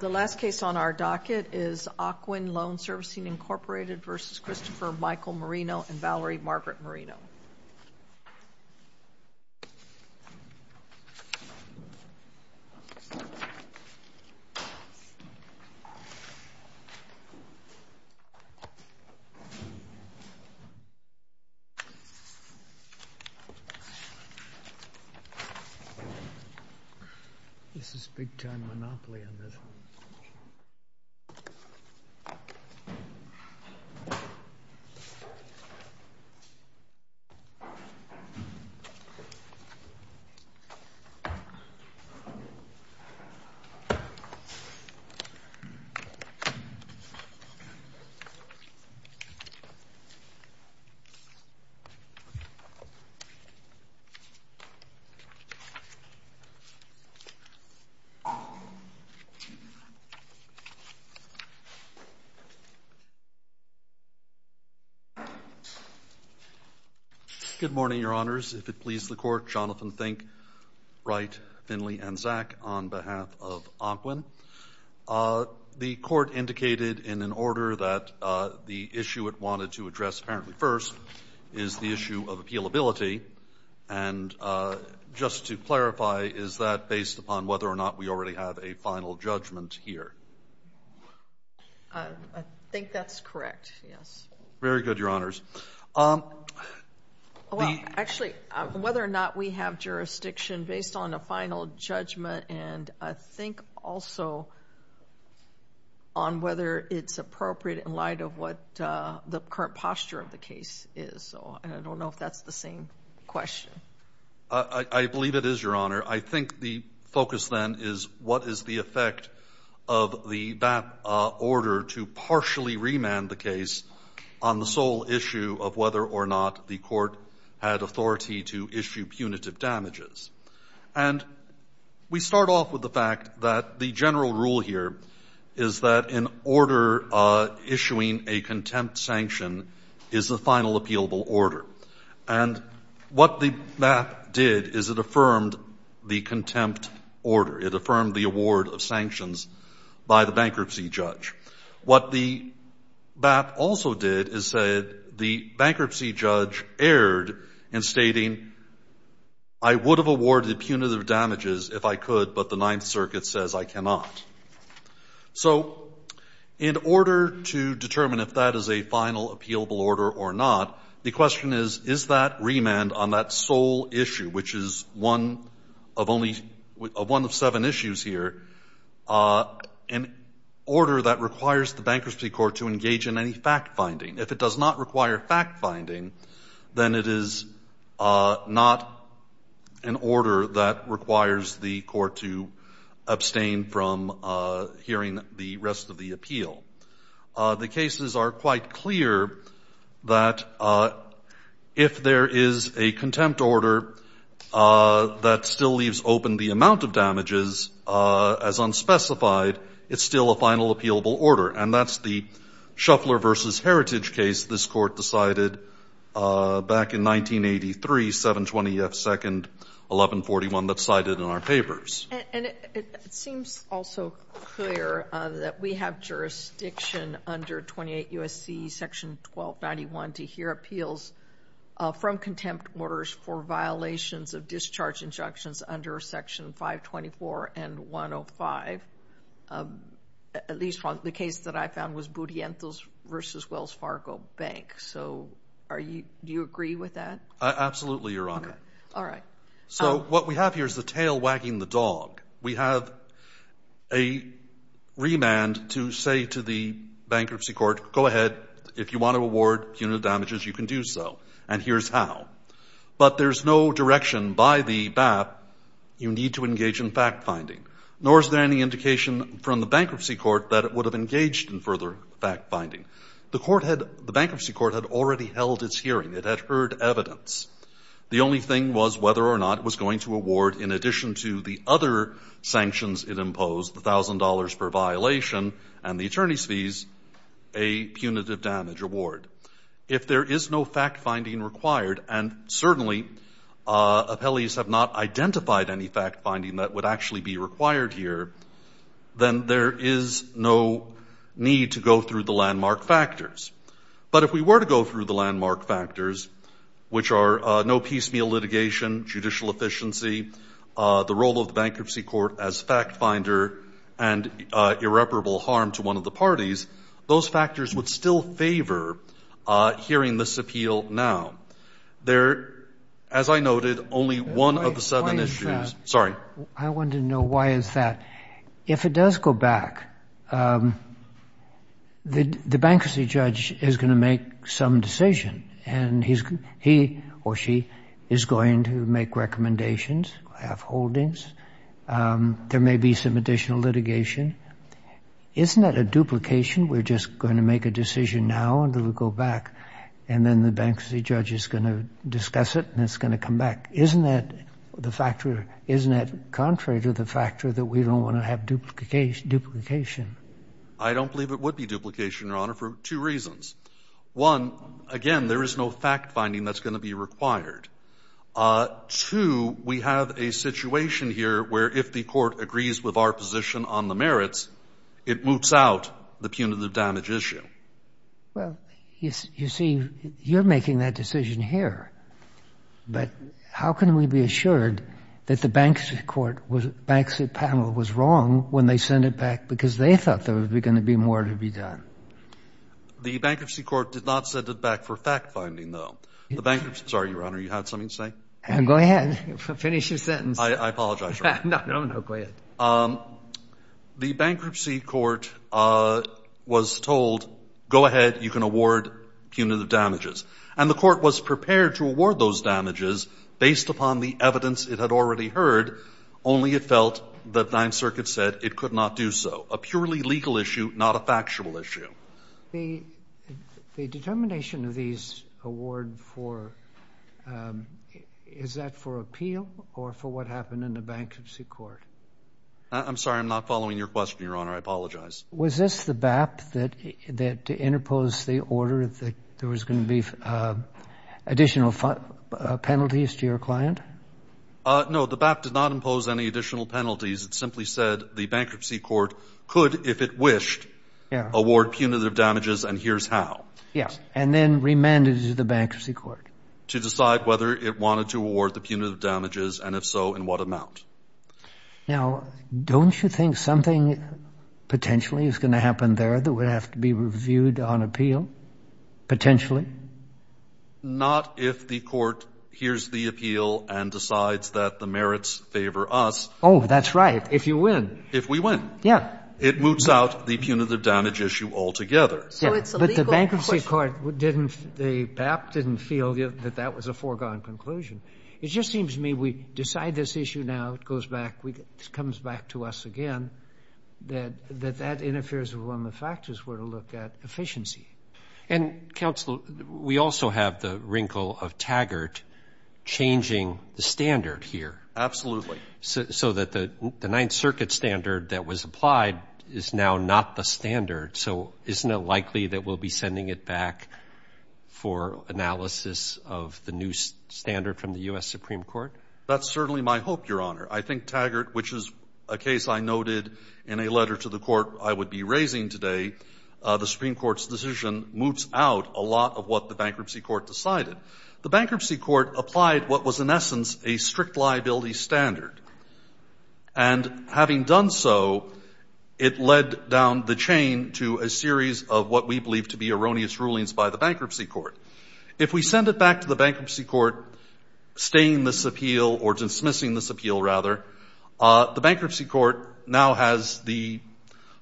The last case on our docket is Ocwen Loan Servicing, Inc. v. Christopher Michael Marino and Valerie Margaret Marino. This is a big-time monopoly on this one. The case is Ocwen Loan Servicing v. Christopher Marino. Good morning, Your Honors. If it please the Court, Jonathan Fink, Wright, Finley, and Zak, on behalf of Ocwen. The Court indicated in an order that the issue it wanted to address apparently first is the issue of appealability. And just to clarify, is that based upon whether or not we already have a final judgment here? I think that's correct, yes. Very good, Your Honors. Well, actually, whether or not we have jurisdiction based on a final judgment and I think also on whether it's appropriate in light of what the current posture of the case is, so I don't know if that's the same question. I believe it is, Your Honor. I think the focus then is what is the effect of the BAP order to partially remand the case on the sole issue of whether or not the Court had authority to issue punitive damages. And we start off with the fact that the general rule here is that in order issuing a contempt sanction is the final appealable order. And what the BAP did is it affirmed the contempt order. It affirmed the award of sanctions by the bankruptcy judge. What the BAP also did is said the bankruptcy judge erred in stating, I would have awarded punitive damages if I could, but the Ninth Circuit says I cannot. So in order to determine if that is a final appealable order or not, the question is, is that remand on that sole issue, which is one of only one of seven issues here, an order that requires the Bankruptcy Court to engage in any fact-finding? If it does not require fact-finding, then it is not an order that requires the Court to abstain from hearing the rest of the appeal. The cases are quite clear that if there is a contempt order that still leaves open the amount of damages as unspecified, it's still a final appealable order. And that's the Shuffler v. Heritage case this Court decided back in 1983, 720 F. 2nd, 1141, that's cited in our papers. And it seems also clear that we have jurisdiction under 28 U.S.C. Section 1291 to hear appeals from contempt orders for violations of discharge injunctions under Section 524 and 105, at least the case that I found was Budientos v. Wells Fargo Bank. So do you agree with that? Absolutely, Your Honor. All right. So what we have here is the tail wagging the dog. We have a remand to say to the Bankruptcy Court, go ahead, if you want to award punitive damages, you can do so, and here's how. But there's no direction by the BAP you need to engage in fact-finding, nor is there any indication from the Bankruptcy Court that it would have engaged in further fact-finding. The court had the Bankruptcy Court had already held its hearing. It had heard evidence. The only thing was whether or not it was going to award, in addition to the other sanctions it imposed, the $1,000 per violation and the attorney's fees, a punitive damage award. If there is no fact-finding required, and certainly appellees have not identified any fact-finding that would actually be required here, then there is no need to go through the landmark factors. But if we were to go through the landmark factors, which are no piecemeal litigation, judicial efficiency, the role of the Bankruptcy Court as fact-finder, and irreparable harm to one of the parties, those factors would still favor hearing this appeal now. There, as I noted, only one of the seven issues. Sorry. I wanted to know why is that? If it does go back, the bankruptcy judge is going to make some decision, and he or she is going to make recommendations, have holdings. There may be some additional litigation. Isn't that a duplication? We're just going to make a decision now, and it'll go back, and then the bankruptcy judge is going to discuss it, and it's going to come back. Isn't that the factor? Isn't that contrary to the factor that we don't want to have duplication? I don't believe it would be duplication, Your Honor, for two reasons. One, again, there is no fact-finding that's going to be required. Two, we have a situation here where if the court agrees with our position on the merits, it moves out the punitive damage issue. Well, you see, you're making that decision here, but how can we be assured that the bankruptcy panel was wrong when they sent it back because they thought there was going to be more to be done? The bankruptcy court did not send it back for fact-finding, though. The bankruptcy, sorry, Your Honor, you had something to say? Go ahead. Finish your sentence. I apologize, Your Honor. No, no, go ahead. The bankruptcy court was told, go ahead, you can award punitive damages. And the court was prepared to award those damages based upon the evidence it had already heard, only it felt that Ninth Circuit said it could not do so. A purely legal issue, not a factual issue. The determination of these award for, is that for appeal or for what happened in the bankruptcy court? I'm sorry, I'm not following your question, Your Honor. I apologize. Was this the BAP that interposed the order that there was going to be additional penalties to your client? No, the BAP did not impose any additional penalties. It simply said the bankruptcy court could, if it wished, award punitive damages and here's how. Yes. And then remanded it to the bankruptcy court? To decide whether it wanted to award the punitive damages and if so, in what amount. Now, don't you think something potentially is going to happen there that would have to be reviewed on appeal, potentially? Not if the court hears the appeal and decides that the merits favor us. Oh, that's right. If you win. If we win. Yeah. It moots out the punitive damage issue altogether. But the bankruptcy court, the BAP didn't feel that that was a foregone conclusion. It just seems to me we decide this issue now, it comes back to us again, that that interferes with one of the factors we're to look at, efficiency. And counsel, we also have the wrinkle of Taggart changing the standard here. Absolutely. So that the Ninth Circuit standard that was applied is now not the standard. So isn't it likely that we'll be sending it back for analysis of the new standard from the U.S. Supreme Court? That's certainly my hope, Your Honor. I think Taggart, which is a case I noted in a letter to the court I would be raising today, the Supreme Court's decision moots out a lot of what the bankruptcy court decided. The bankruptcy court applied what was in essence a strict liability standard. And having done so, it led down the chain to a series of what we believe to be erroneous rulings by the bankruptcy court. If we send it back to the bankruptcy court, staying this appeal, or dismissing this appeal rather, the bankruptcy court now has the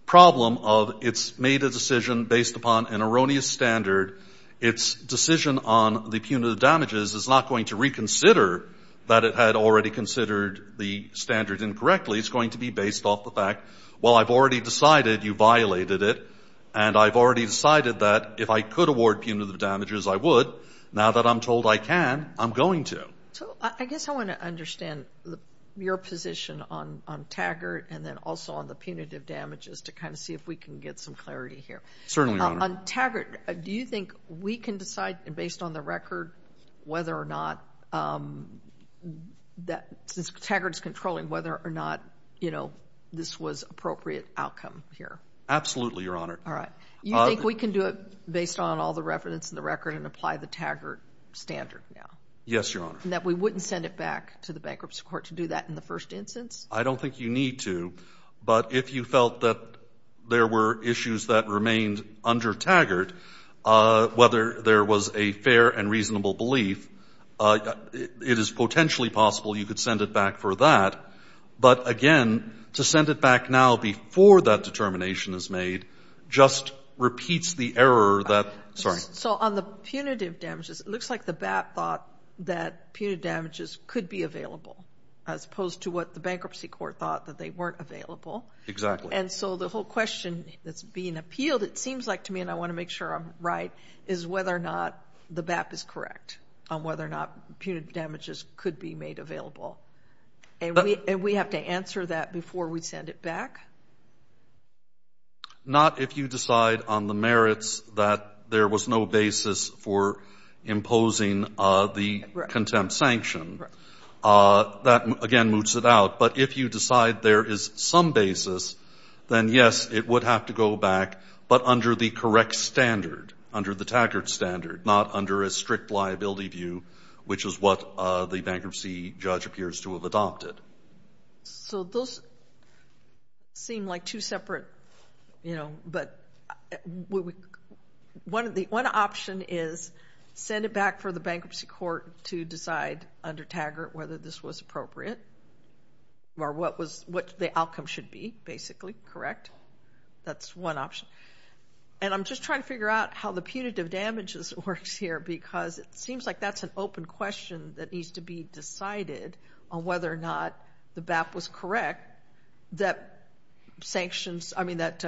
problem of it's made a decision based upon an erroneous standard. Its decision on the punitive damages is not going to reconsider that it had already considered the standard incorrectly. It's going to be based off the fact, well, I've already decided you violated it. And I've already decided that if I could award punitive damages, I would. Now that I'm told I can, I'm going to. So I guess I want to understand your position on Taggart and then also on the punitive damages to kind of see if we can get some clarity here. Certainly, Your Honor. On Taggart, do you think we can decide based on the record whether or not, since Taggart's controlling, whether or not this was appropriate outcome here? Absolutely, Your Honor. All right. You think we can do it based on all the reference in the record and apply the Taggart standard now? Yes, Your Honor. And that we wouldn't send it back to the bankruptcy court to do that in the first instance? I don't think you need to. But if you felt that there were issues that remained under Taggart, whether there was a fair and reasonable belief, it is potentially possible you could send it back for that. But again, to send it back now before that determination is made just repeats the error that, sorry. So on the punitive damages, it looks like the BAT thought that punitive damages could be available as opposed to what the bankruptcy court thought that they weren't available. Exactly. And so the whole question that's being appealed, it seems like to me, and I want to make sure I'm right, is whether or not the BAP is correct on whether or not punitive damages could be made available. And we have to answer that before we send it back? Not if you decide on the merits that there was no basis for imposing the contempt sanction. That, again, moves it out. But if you decide there is some basis, then yes, it would have to go back. But under the correct standard, under the Taggart standard, not under a strict liability view, which is what the bankruptcy judge appears to have adopted. So those seem like two separate, you know, but one option is send it back for the bankruptcy court to decide under Taggart whether this was appropriate or what the outcome should be, basically, correct? That's one option. And I'm just trying to figure out how the punitive damages works here, because it seems like that's an open question that needs to be decided on whether or not the BAP was correct, that sanctions, I mean, that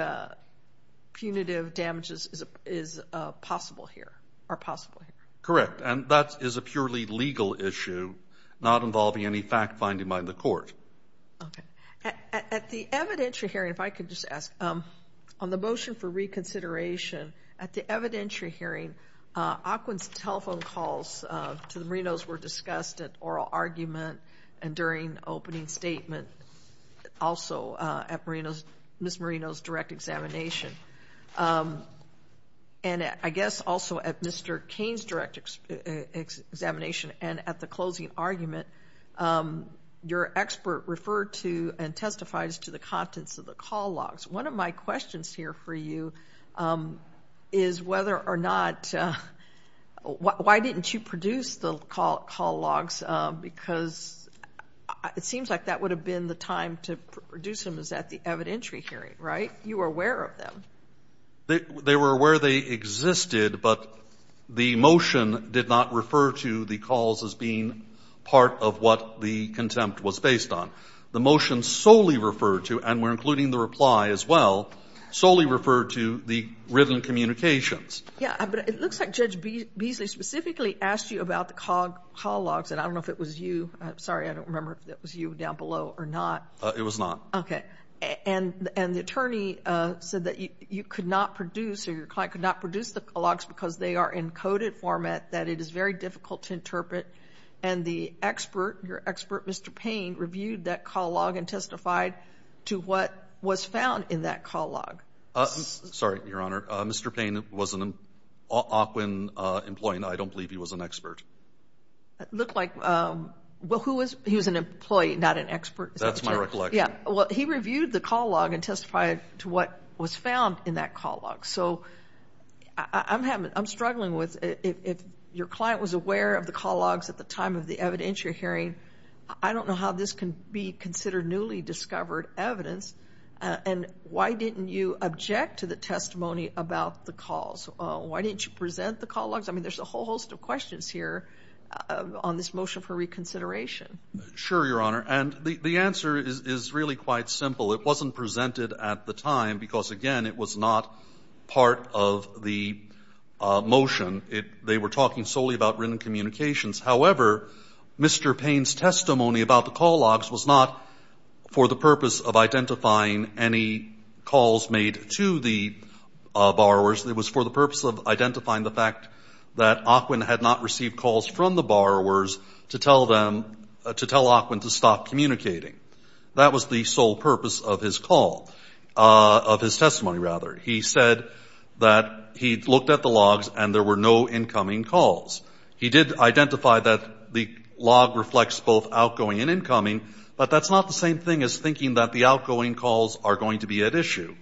punitive damages is possible here, or possible here. Correct. And that is a purely legal issue, not involving any fact-finding by the court. Okay. At the evidentiary hearing, if I could just ask, on the motion for reconsideration, at the evidentiary hearing, Ocwen's telephone calls to the Marinos were discussed at oral argument and during opening statement, also at Marino's, Ms. Marino's direct examination. And I guess also at Mr. Cain's direct examination and at the closing argument, your expert referred to and testifies to the contents of the call logs. One of my questions here for you is whether or not, why didn't you produce the call logs, because it seems like that would have been the time to produce them is at the evidentiary hearing, right? You were aware of them. They were aware they existed, but the motion did not refer to the calls as being part of what the contempt was based on. The motion solely referred to, and we're including the reply as well, solely referred to the written communications. Yeah, but it looks like Judge Beasley specifically asked you about the call logs. And I don't know if it was you, sorry, I don't remember if it was you down below or not. It was not. Okay. And the attorney said that you could not produce, or your client could not produce the logs because they are in coded format that it is very difficult to interpret. And the expert, your expert, Mr. Paine, reviewed that call log and testified to what was found in that call log. Sorry, Your Honor. Mr. Paine was an Occoquan employee, and I don't believe he was an expert. It looked like, well, who was, he was an employee, not an expert. That's my recollection. Yeah, well, he reviewed the call log and testified to what was found in that call log. So I'm struggling with, if your client was aware of the call logs at the time of the evidence you're hearing, I don't know how this can be considered newly discovered evidence. And why didn't you object to the testimony about the calls? Why didn't you present the call logs? I mean, there's a whole host of questions here on this motion for reconsideration. Sure, Your Honor. And the answer is really quite simple. It wasn't presented at the time because, again, it was not part of the motion. They were talking solely about written communications. However, Mr. Paine's testimony about the call logs was not for the purpose of identifying any calls made to the borrowers. It was for the purpose of identifying the fact that Occoquan had not received calls from the borrowers to tell them, to tell Occoquan to stop communicating. That was the sole purpose of his call, of his testimony, rather. He said that he looked at the logs and there were no incoming calls. He did identify that the log reflects both outgoing and incoming, but that's not the same thing as thinking that the outgoing calls are going to be at issue.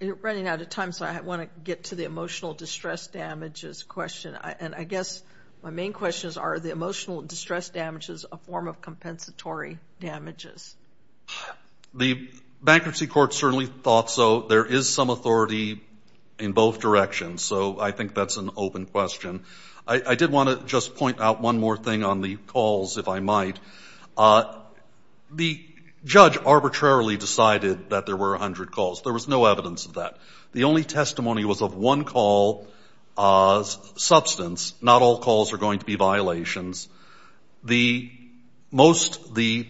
You're running out of time, so I want to get to the emotional distress damages question. And I guess my main question is, are the emotional distress damages a form of compensatory damages? The bankruptcy court certainly thought so. There is some authority in both directions, so I think that's an open question. I did want to just point out one more thing on the calls, if I might. The judge arbitrarily decided that there were 100 calls. There was no evidence of that. The only testimony was of one call's substance. Not all calls are going to be violations. Most of the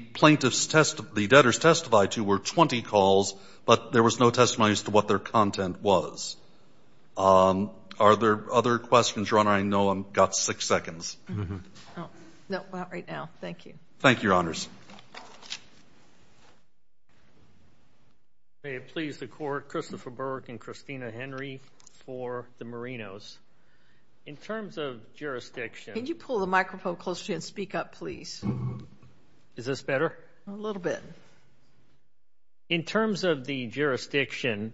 debtors testified to were 20 calls, but there was no testimony as to what their content was. Are there other questions, Your Honor? I know I've got six seconds. Thank you. Thank you, Your Honors. May it please the court, Christopher Burke and Christina Henry for the Marinos. In terms of jurisdiction- Can you pull the microphone closer to you and speak up, please? Is this better? A little bit. In terms of the jurisdiction,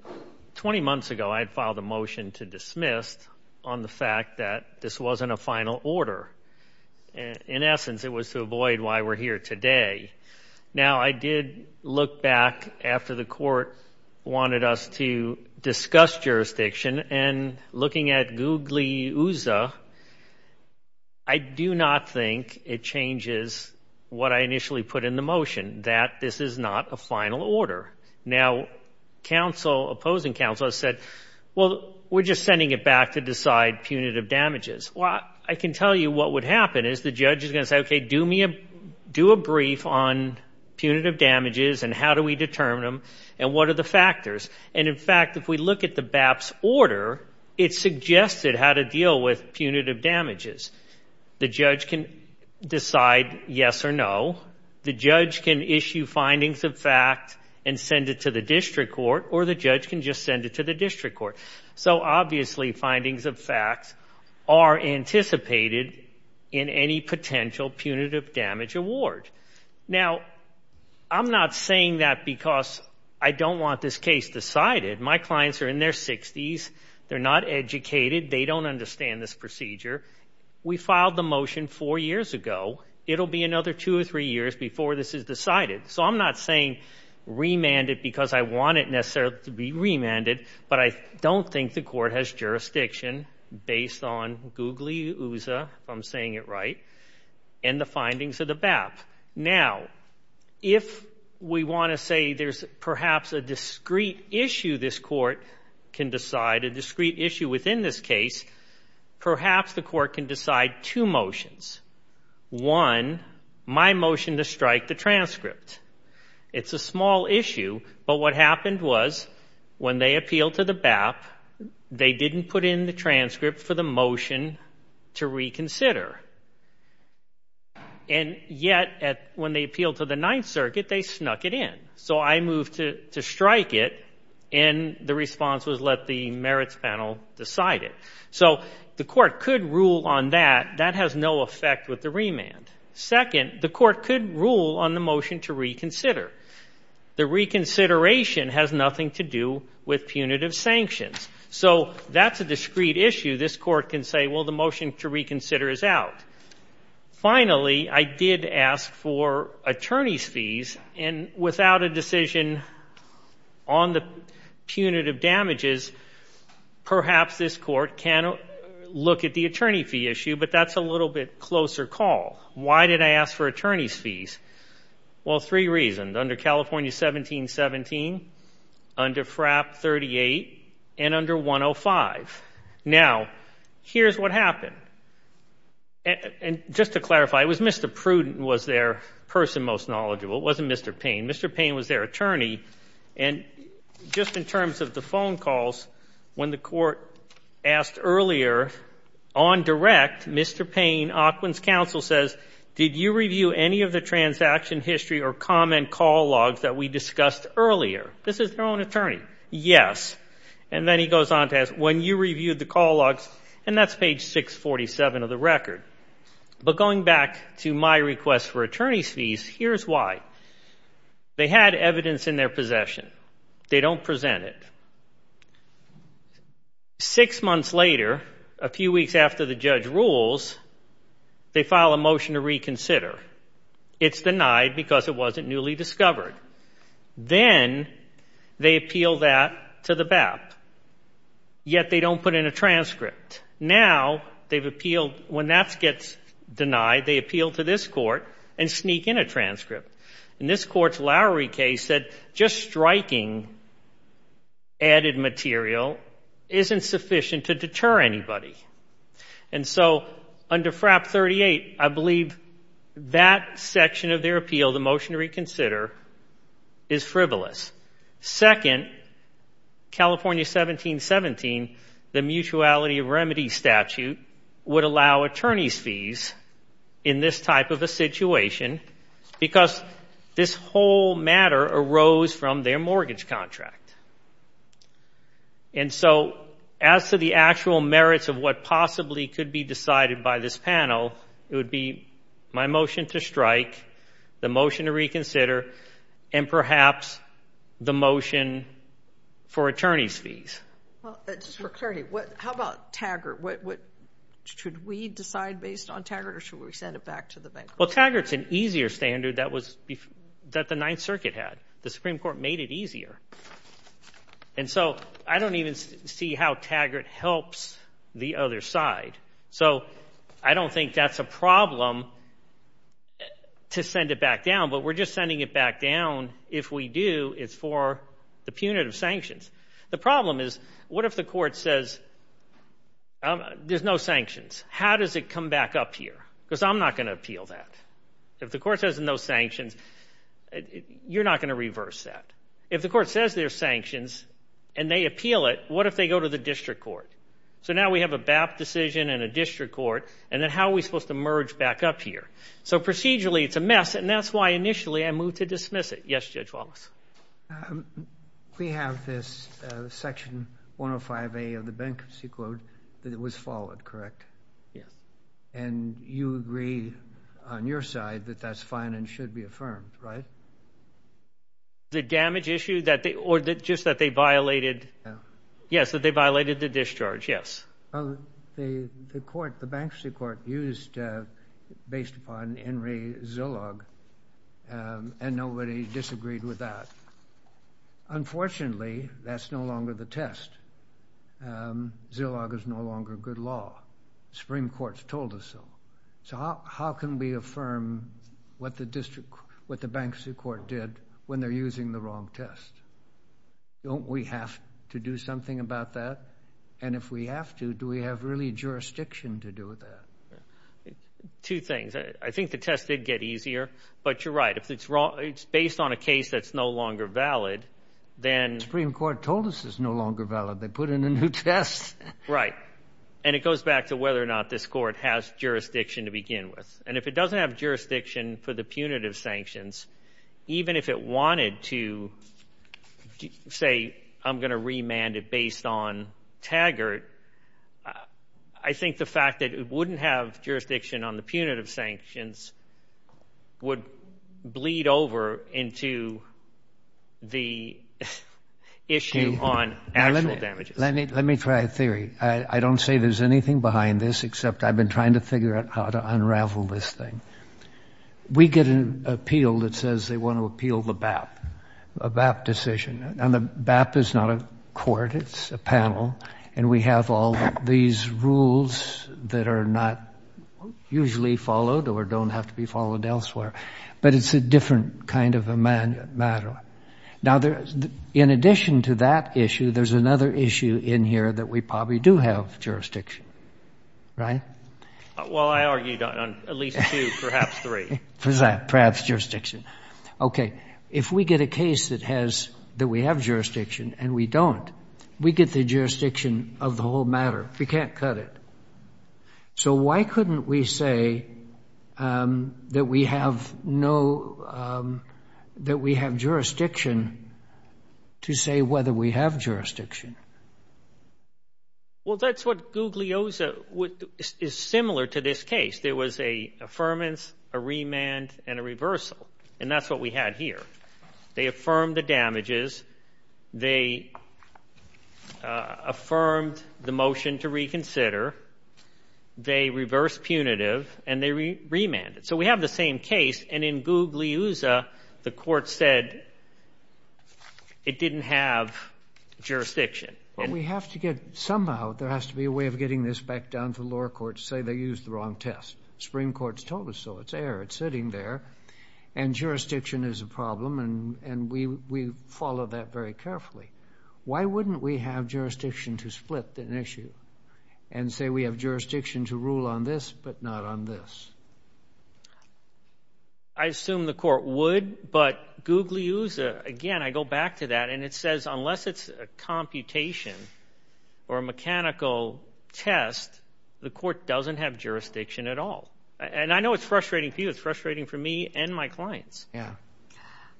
20 months ago I had filed a motion to dismiss on the fact that this wasn't a final order. In essence, it was to avoid why we're here today. Now, I did look back after the court wanted us to discuss jurisdiction, and looking at Gugliusa, I do not think it changes what I initially put in the motion, that this is not a final order. Now, opposing counsel has said, well, we're just sending it back to decide punitive damages. Well, I can tell you what would happen is the judge is going to say, okay, do a brief on punitive damages, and how do we determine them, and what are the factors? In fact, if we look at the BAPS order, it suggested how to deal with punitive damages. The judge can decide yes or no. The judge can issue findings of fact and send it to the district court, or the judge can just send it to the district court. So obviously, findings of facts are anticipated in any potential punitive damage award. Now, I'm not saying that because I don't want this case decided. My clients are in their 60s. They're not educated. They don't understand this procedure. We filed the motion four years ago. It'll be another two or three years before this is decided. So I'm not saying remand it because I want it necessarily to be remanded, but I don't think the court has jurisdiction based on googly ooza, if I'm saying it right, and the findings of the BAP. Now, if we want to say there's perhaps a discrete issue this court can decide, a discrete issue within this case, perhaps the court can decide two motions. One, my motion to strike the transcript. It's a small issue, but what happened was when they appealed to the BAP, they didn't put in the transcript for the motion to reconsider. And yet, when they appealed to the Ninth Circuit, they snuck it in. So I moved to strike it, and the response was let the merits panel decide it. So the court could rule on that. That has no effect with the remand. Second, the court could rule on the motion to reconsider. The reconsideration has nothing to do with punitive sanctions. So that's a discrete issue. This court can say, well, the motion to reconsider is out. Finally, I did ask for attorney's fees, and without a decision on the punitive damages, perhaps this court can look at the attorney fee issue, but that's a little bit closer call. Why did I ask for attorney's fees? Well, three reasons. Under California 1717, under FRAP 38, and under 105. Now, here's what happened. And just to clarify, it was Mr. Prudent was their person most knowledgeable. It wasn't Mr. Payne. Mr. Payne was their attorney. And just in terms of the phone calls, when the court asked earlier on direct, Mr. Payne, Ocwen's counsel says, did you review any of the transaction history or comment call logs that we discussed earlier? This is their own attorney. Yes. And then he goes on to ask, when you reviewed the call logs, and that's page 647 of the record. But going back to my request for attorney's fees, here's why. They had evidence in their possession. They don't present it. Six months later, a few weeks after the judge rules, they file a motion to reconsider. It's denied because it wasn't newly discovered. Then they appeal that to the BAP, yet they don't put in a transcript. Now, when that gets denied, they appeal to this court and sneak in a transcript. In this court's Lowery case, just striking added material isn't sufficient to deter anybody. And so under FRAP 38, I believe that section of their appeal, the motion to reconsider, is frivolous. Second, California 1717, the mutuality of remedy statute would allow attorney's fees in this type of a situation because this whole matter arose from their mortgage contract. And so as to the actual merits of what possibly could be decided by this panel, it would be my motion to strike, the motion to reconsider, and perhaps the motion for attorney's fees. Well, just for clarity, how about Taggart? Should we decide based on Taggart, or should we send it back to the bank? Well, Taggart's an easier standard that the Ninth Circuit had. The Supreme Court made it easier. And so I don't even see how Taggart helps the other side. So I don't think that's a problem to send it back down, but we're just sending it back down. If we do, it's for the punitive sanctions. The problem is, what if the court says, there's no sanctions? How does it come back up here? Because I'm not going to appeal that. If the court says there's no sanctions, you're not going to reverse that. If the court says there's sanctions, and they appeal it, what if they go to the district court? So now we have a BAP decision and a district court, and then how are we supposed to merge back up here? So procedurally, it's a mess, and that's why initially I moved to dismiss it. Yes, Judge Wallace? We have this Section 105A of the Bankruptcy Code that was followed, correct? Yes. And you agree on your side that that's fine and should be affirmed, right? The damage issue that they, or just that they violated, yes, that they violated the discharge, yes. The court, the Bankruptcy Court, used, based upon Henry Zillog, and nobody disagreed with that. Unfortunately, that's no longer the test. Zillog is no longer good law. Supreme Court's told us so. So how can we affirm what the district, what the Bankruptcy Court did when they're using the wrong test? Don't we have to do something about that? And if we have to, do we have really jurisdiction to do with that? Two things. I think the test did get easier, but you're right. If it's based on a case that's no longer valid, then... The Supreme Court told us it's no longer valid. They put in a new test. Right. And it goes back to whether or not this court has jurisdiction to begin with. And if it doesn't have jurisdiction for the punitive sanctions, even if it wanted to say, I'm going to remand it based on Taggart, I think the fact that it wouldn't have jurisdiction on the punitive sanctions would bleed over into the issue on actual damages. Let me try a theory. I don't say there's anything behind this, except I've been trying to figure out how to unravel this thing. We get an appeal that says they want to appeal the BAP, a BAP decision. And the BAP is not a court. It's a panel. And we have all these rules that are not usually followed or don't have to be followed elsewhere. But it's a different kind of a matter. Now, in addition to that issue, there's another issue in here that we probably do have jurisdiction. Right? Well, I argued on at least two, perhaps three. Perhaps jurisdiction. OK, if we get a case that has, that we have jurisdiction and we don't, we get the jurisdiction of the whole matter. We can't cut it. So why couldn't we say that we have no, that we have jurisdiction to say whether we have jurisdiction? Well, that's what Guglielmo is similar to this case. There was a affirmance, a remand and a reversal. And that's what we had here. They affirmed the damages. They affirmed the motion to reconsider. They reversed punitive and they remanded. So we have the same case. And in Guglielmo, the court said it didn't have jurisdiction. But we have to get somehow, there has to be a way of getting this back down to the lower courts to say they used the wrong test. Supreme Court's told us so. It's there. It's sitting there. And jurisdiction is a problem. And we follow that very carefully. Why wouldn't we have jurisdiction to split an issue and say we have jurisdiction to rule on this, but not on this? I assume the court would, but Guglielmo, again, I go back to that. And it says, unless it's a computation or a mechanical test, the court doesn't have jurisdiction at all. And I know it's frustrating for you. It's frustrating for me and my clients. Yeah.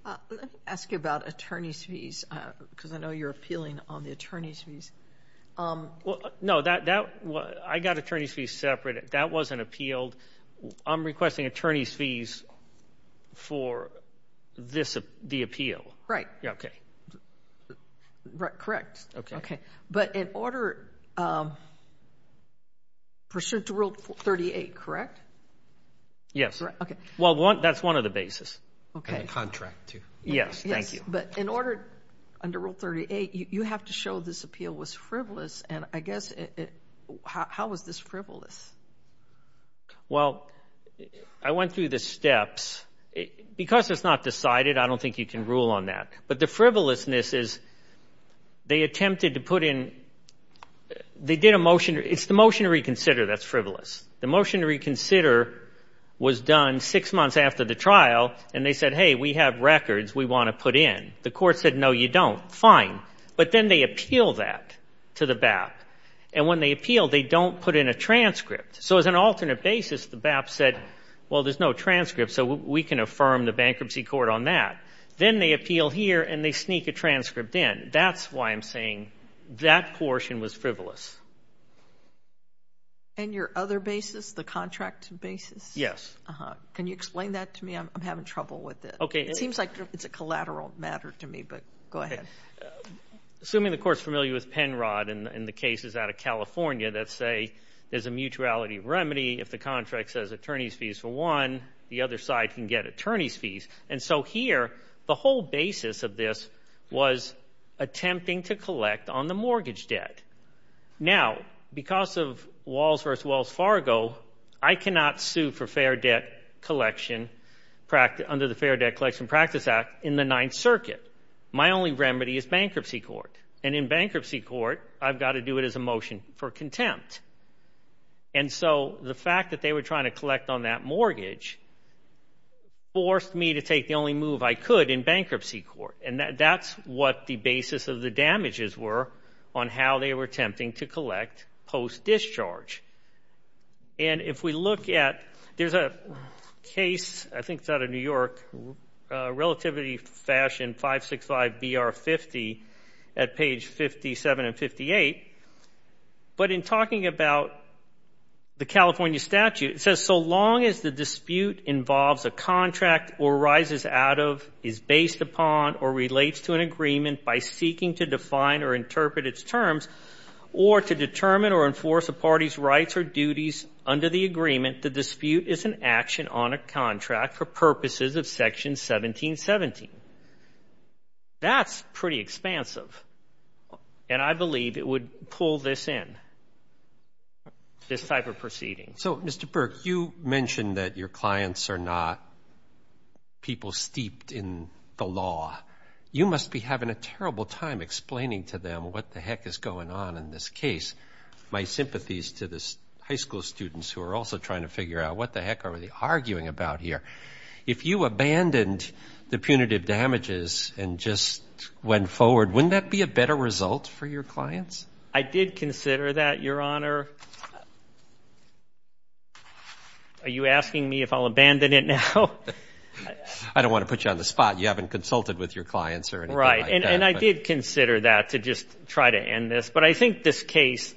Let me ask you about attorney's fees, because I know you're appealing on the attorney's fees. No, I got attorney's fees separate. That wasn't appealed. I'm requesting attorney's fees for the appeal. Right. Yeah, okay. Correct. Okay. But in order, pursuant to Rule 38, correct? Yes. Okay. Well, that's one of the basis. Okay. And the contract, too. Yes. Thank you. But in order, under Rule 38, you have to show this appeal was frivolous. And I guess, how was this frivolous? Well, I went through the steps. Because it's not decided, I don't think you can rule on that. But the frivolousness is, they attempted to put in, they did a motion. It's the motion to reconsider that's frivolous. The motion to reconsider was done six months after the trial. And they said, hey, we have records we want to put in. The court said, no, you don't. Fine. But then they appeal that to the BAP. And when they appeal, they don't put in a transcript. So as an alternate basis, the BAP said, well, there's no transcript. So we can affirm the bankruptcy court on that. Then they appeal here, and they sneak a transcript in. That's why I'm saying that portion was frivolous. And your other basis, the contract basis? Yes. Can you explain that to me? I'm having trouble with it. Okay. It seems like it's a collateral matter to me, but go ahead. Assuming the court's familiar with Penrod and the cases out of California that say there's a mutuality remedy. If the contract says attorney's fees for one, the other side can get attorney's fees. And so here, the whole basis of this was attempting to collect on the mortgage debt. Now, because of Walls v. Wells Fargo, I cannot sue for fair debt collection under the Fair Debt Collection Practice Act in the Ninth Circuit. My only remedy is bankruptcy court. And in bankruptcy court, I've got to do it as a motion for contempt. And so the fact that they were trying to collect on that mortgage forced me to take the only move I could in bankruptcy court. And that's what the basis of the damages were on how they were attempting to collect post-discharge. And if we look at, there's a case, I think it's out of New York, Relativity Fashion 565-BR-50 at page 57 and 58. But in talking about the California statute, it says, so long as the dispute involves a contract or rises out of, is based upon, or relates to an agreement by seeking to define or interpret its terms, or to determine or enforce a party's rights or duties under the agreement, the dispute is an action on a contract for purposes of Section 1717. That's pretty expansive. And I believe it would pull this in, this type of proceeding. So, Mr. Burke, you mentioned that your clients are not people steeped in the law. You must be having a terrible time explaining to them what the heck is going on in this case. My sympathies to the high school students who are also trying to figure out what the heck are we arguing about here? If you abandoned the punitive damages and just went forward, wouldn't that be a better result for your clients? I did consider that, Your Honor. Are you asking me if I'll abandon it now? I don't want to put you on the spot. You haven't consulted with your clients or anything like that. Right. And I did consider that to just try to end this, but I think this case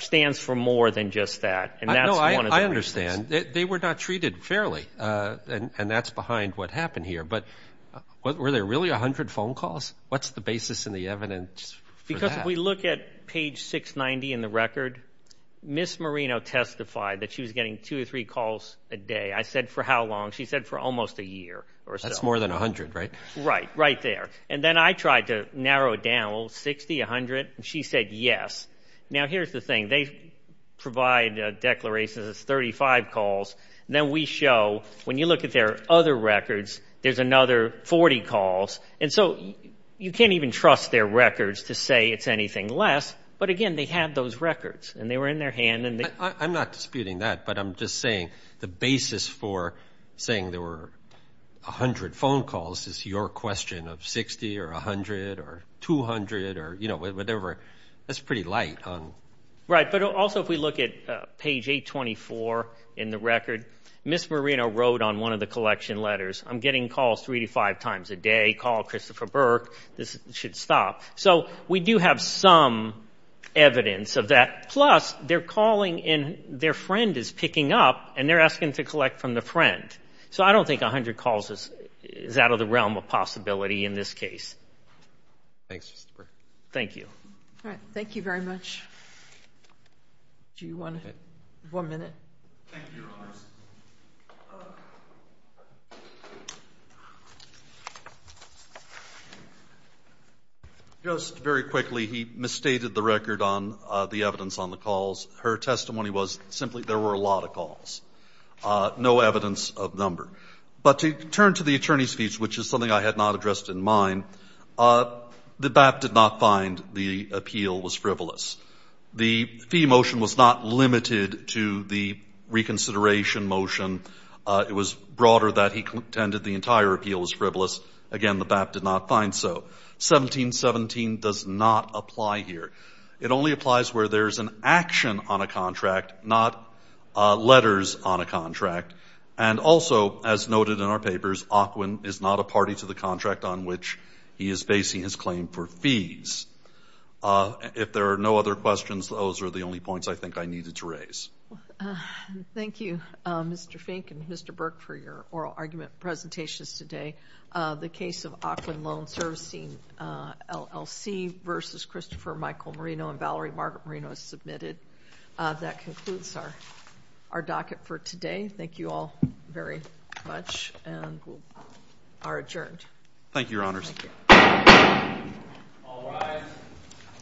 stands for more than just that, and that's one of the reasons. No, I understand. They were not treated fairly, and that's behind what happened here. But were there really a hundred phone calls? What's the basis in the evidence for that? If we look at page 690 in the record, Ms. Marino testified that she was getting two or three calls a day. I said, for how long? She said, for almost a year or so. That's more than a hundred, right? Right. Right there. And then I tried to narrow it down. Well, 60, a hundred? And she said, yes. Now, here's the thing. They provide a declaration that says 35 calls. Then we show, when you look at their other records, there's another 40 calls. And so you can't even trust their records to say it's anything less, but again, they had those records, and they were in their hand, and they... I'm not disputing that, but I'm just saying the basis for saying there were a hundred phone calls is your question of 60 or a hundred or 200 or, you know, whatever, that's pretty light on... Right. But also if we look at page 824 in the record, Ms. Marino wrote on one of the collection letters, I'm getting calls three to five times a day, call Christopher Burke, this should stop. So we do have some evidence of that. Plus, they're calling and their friend is picking up, and they're asking to collect from the friend. So I don't think a hundred calls is out of the realm of possibility in this case. Thanks, Christopher. Thank you. All right. Do you want to... One minute. Thank you, Rollins. Just very quickly, he misstated the record on the evidence on the calls. Her testimony was simply there were a lot of calls, no evidence of number. But to turn to the attorney's fees, which is something I had not addressed in mind, the BAP did not find the appeal was frivolous. The fee motion was not limited to the reconsideration motion. It was broader that he contended the entire appeal was frivolous. Again, the BAP did not find so. 1717 does not apply here. It only applies where there's an action on a contract, not letters on a contract. And also, as noted in our papers, Ocwen is not a party to the contract on which he is facing his claim for fees. If there are no other questions, those are the only points I think I needed to raise. Thank you, Mr. Fink and Mr. Burke for your oral argument presentations today. The case of Ocwen Loan Servicing LLC versus Christopher Michael Marino and Valerie Margaret Marino is submitted. That concludes our docket for today. Thank you all very much and we are adjourned. Thank you, Your Honors. All rise.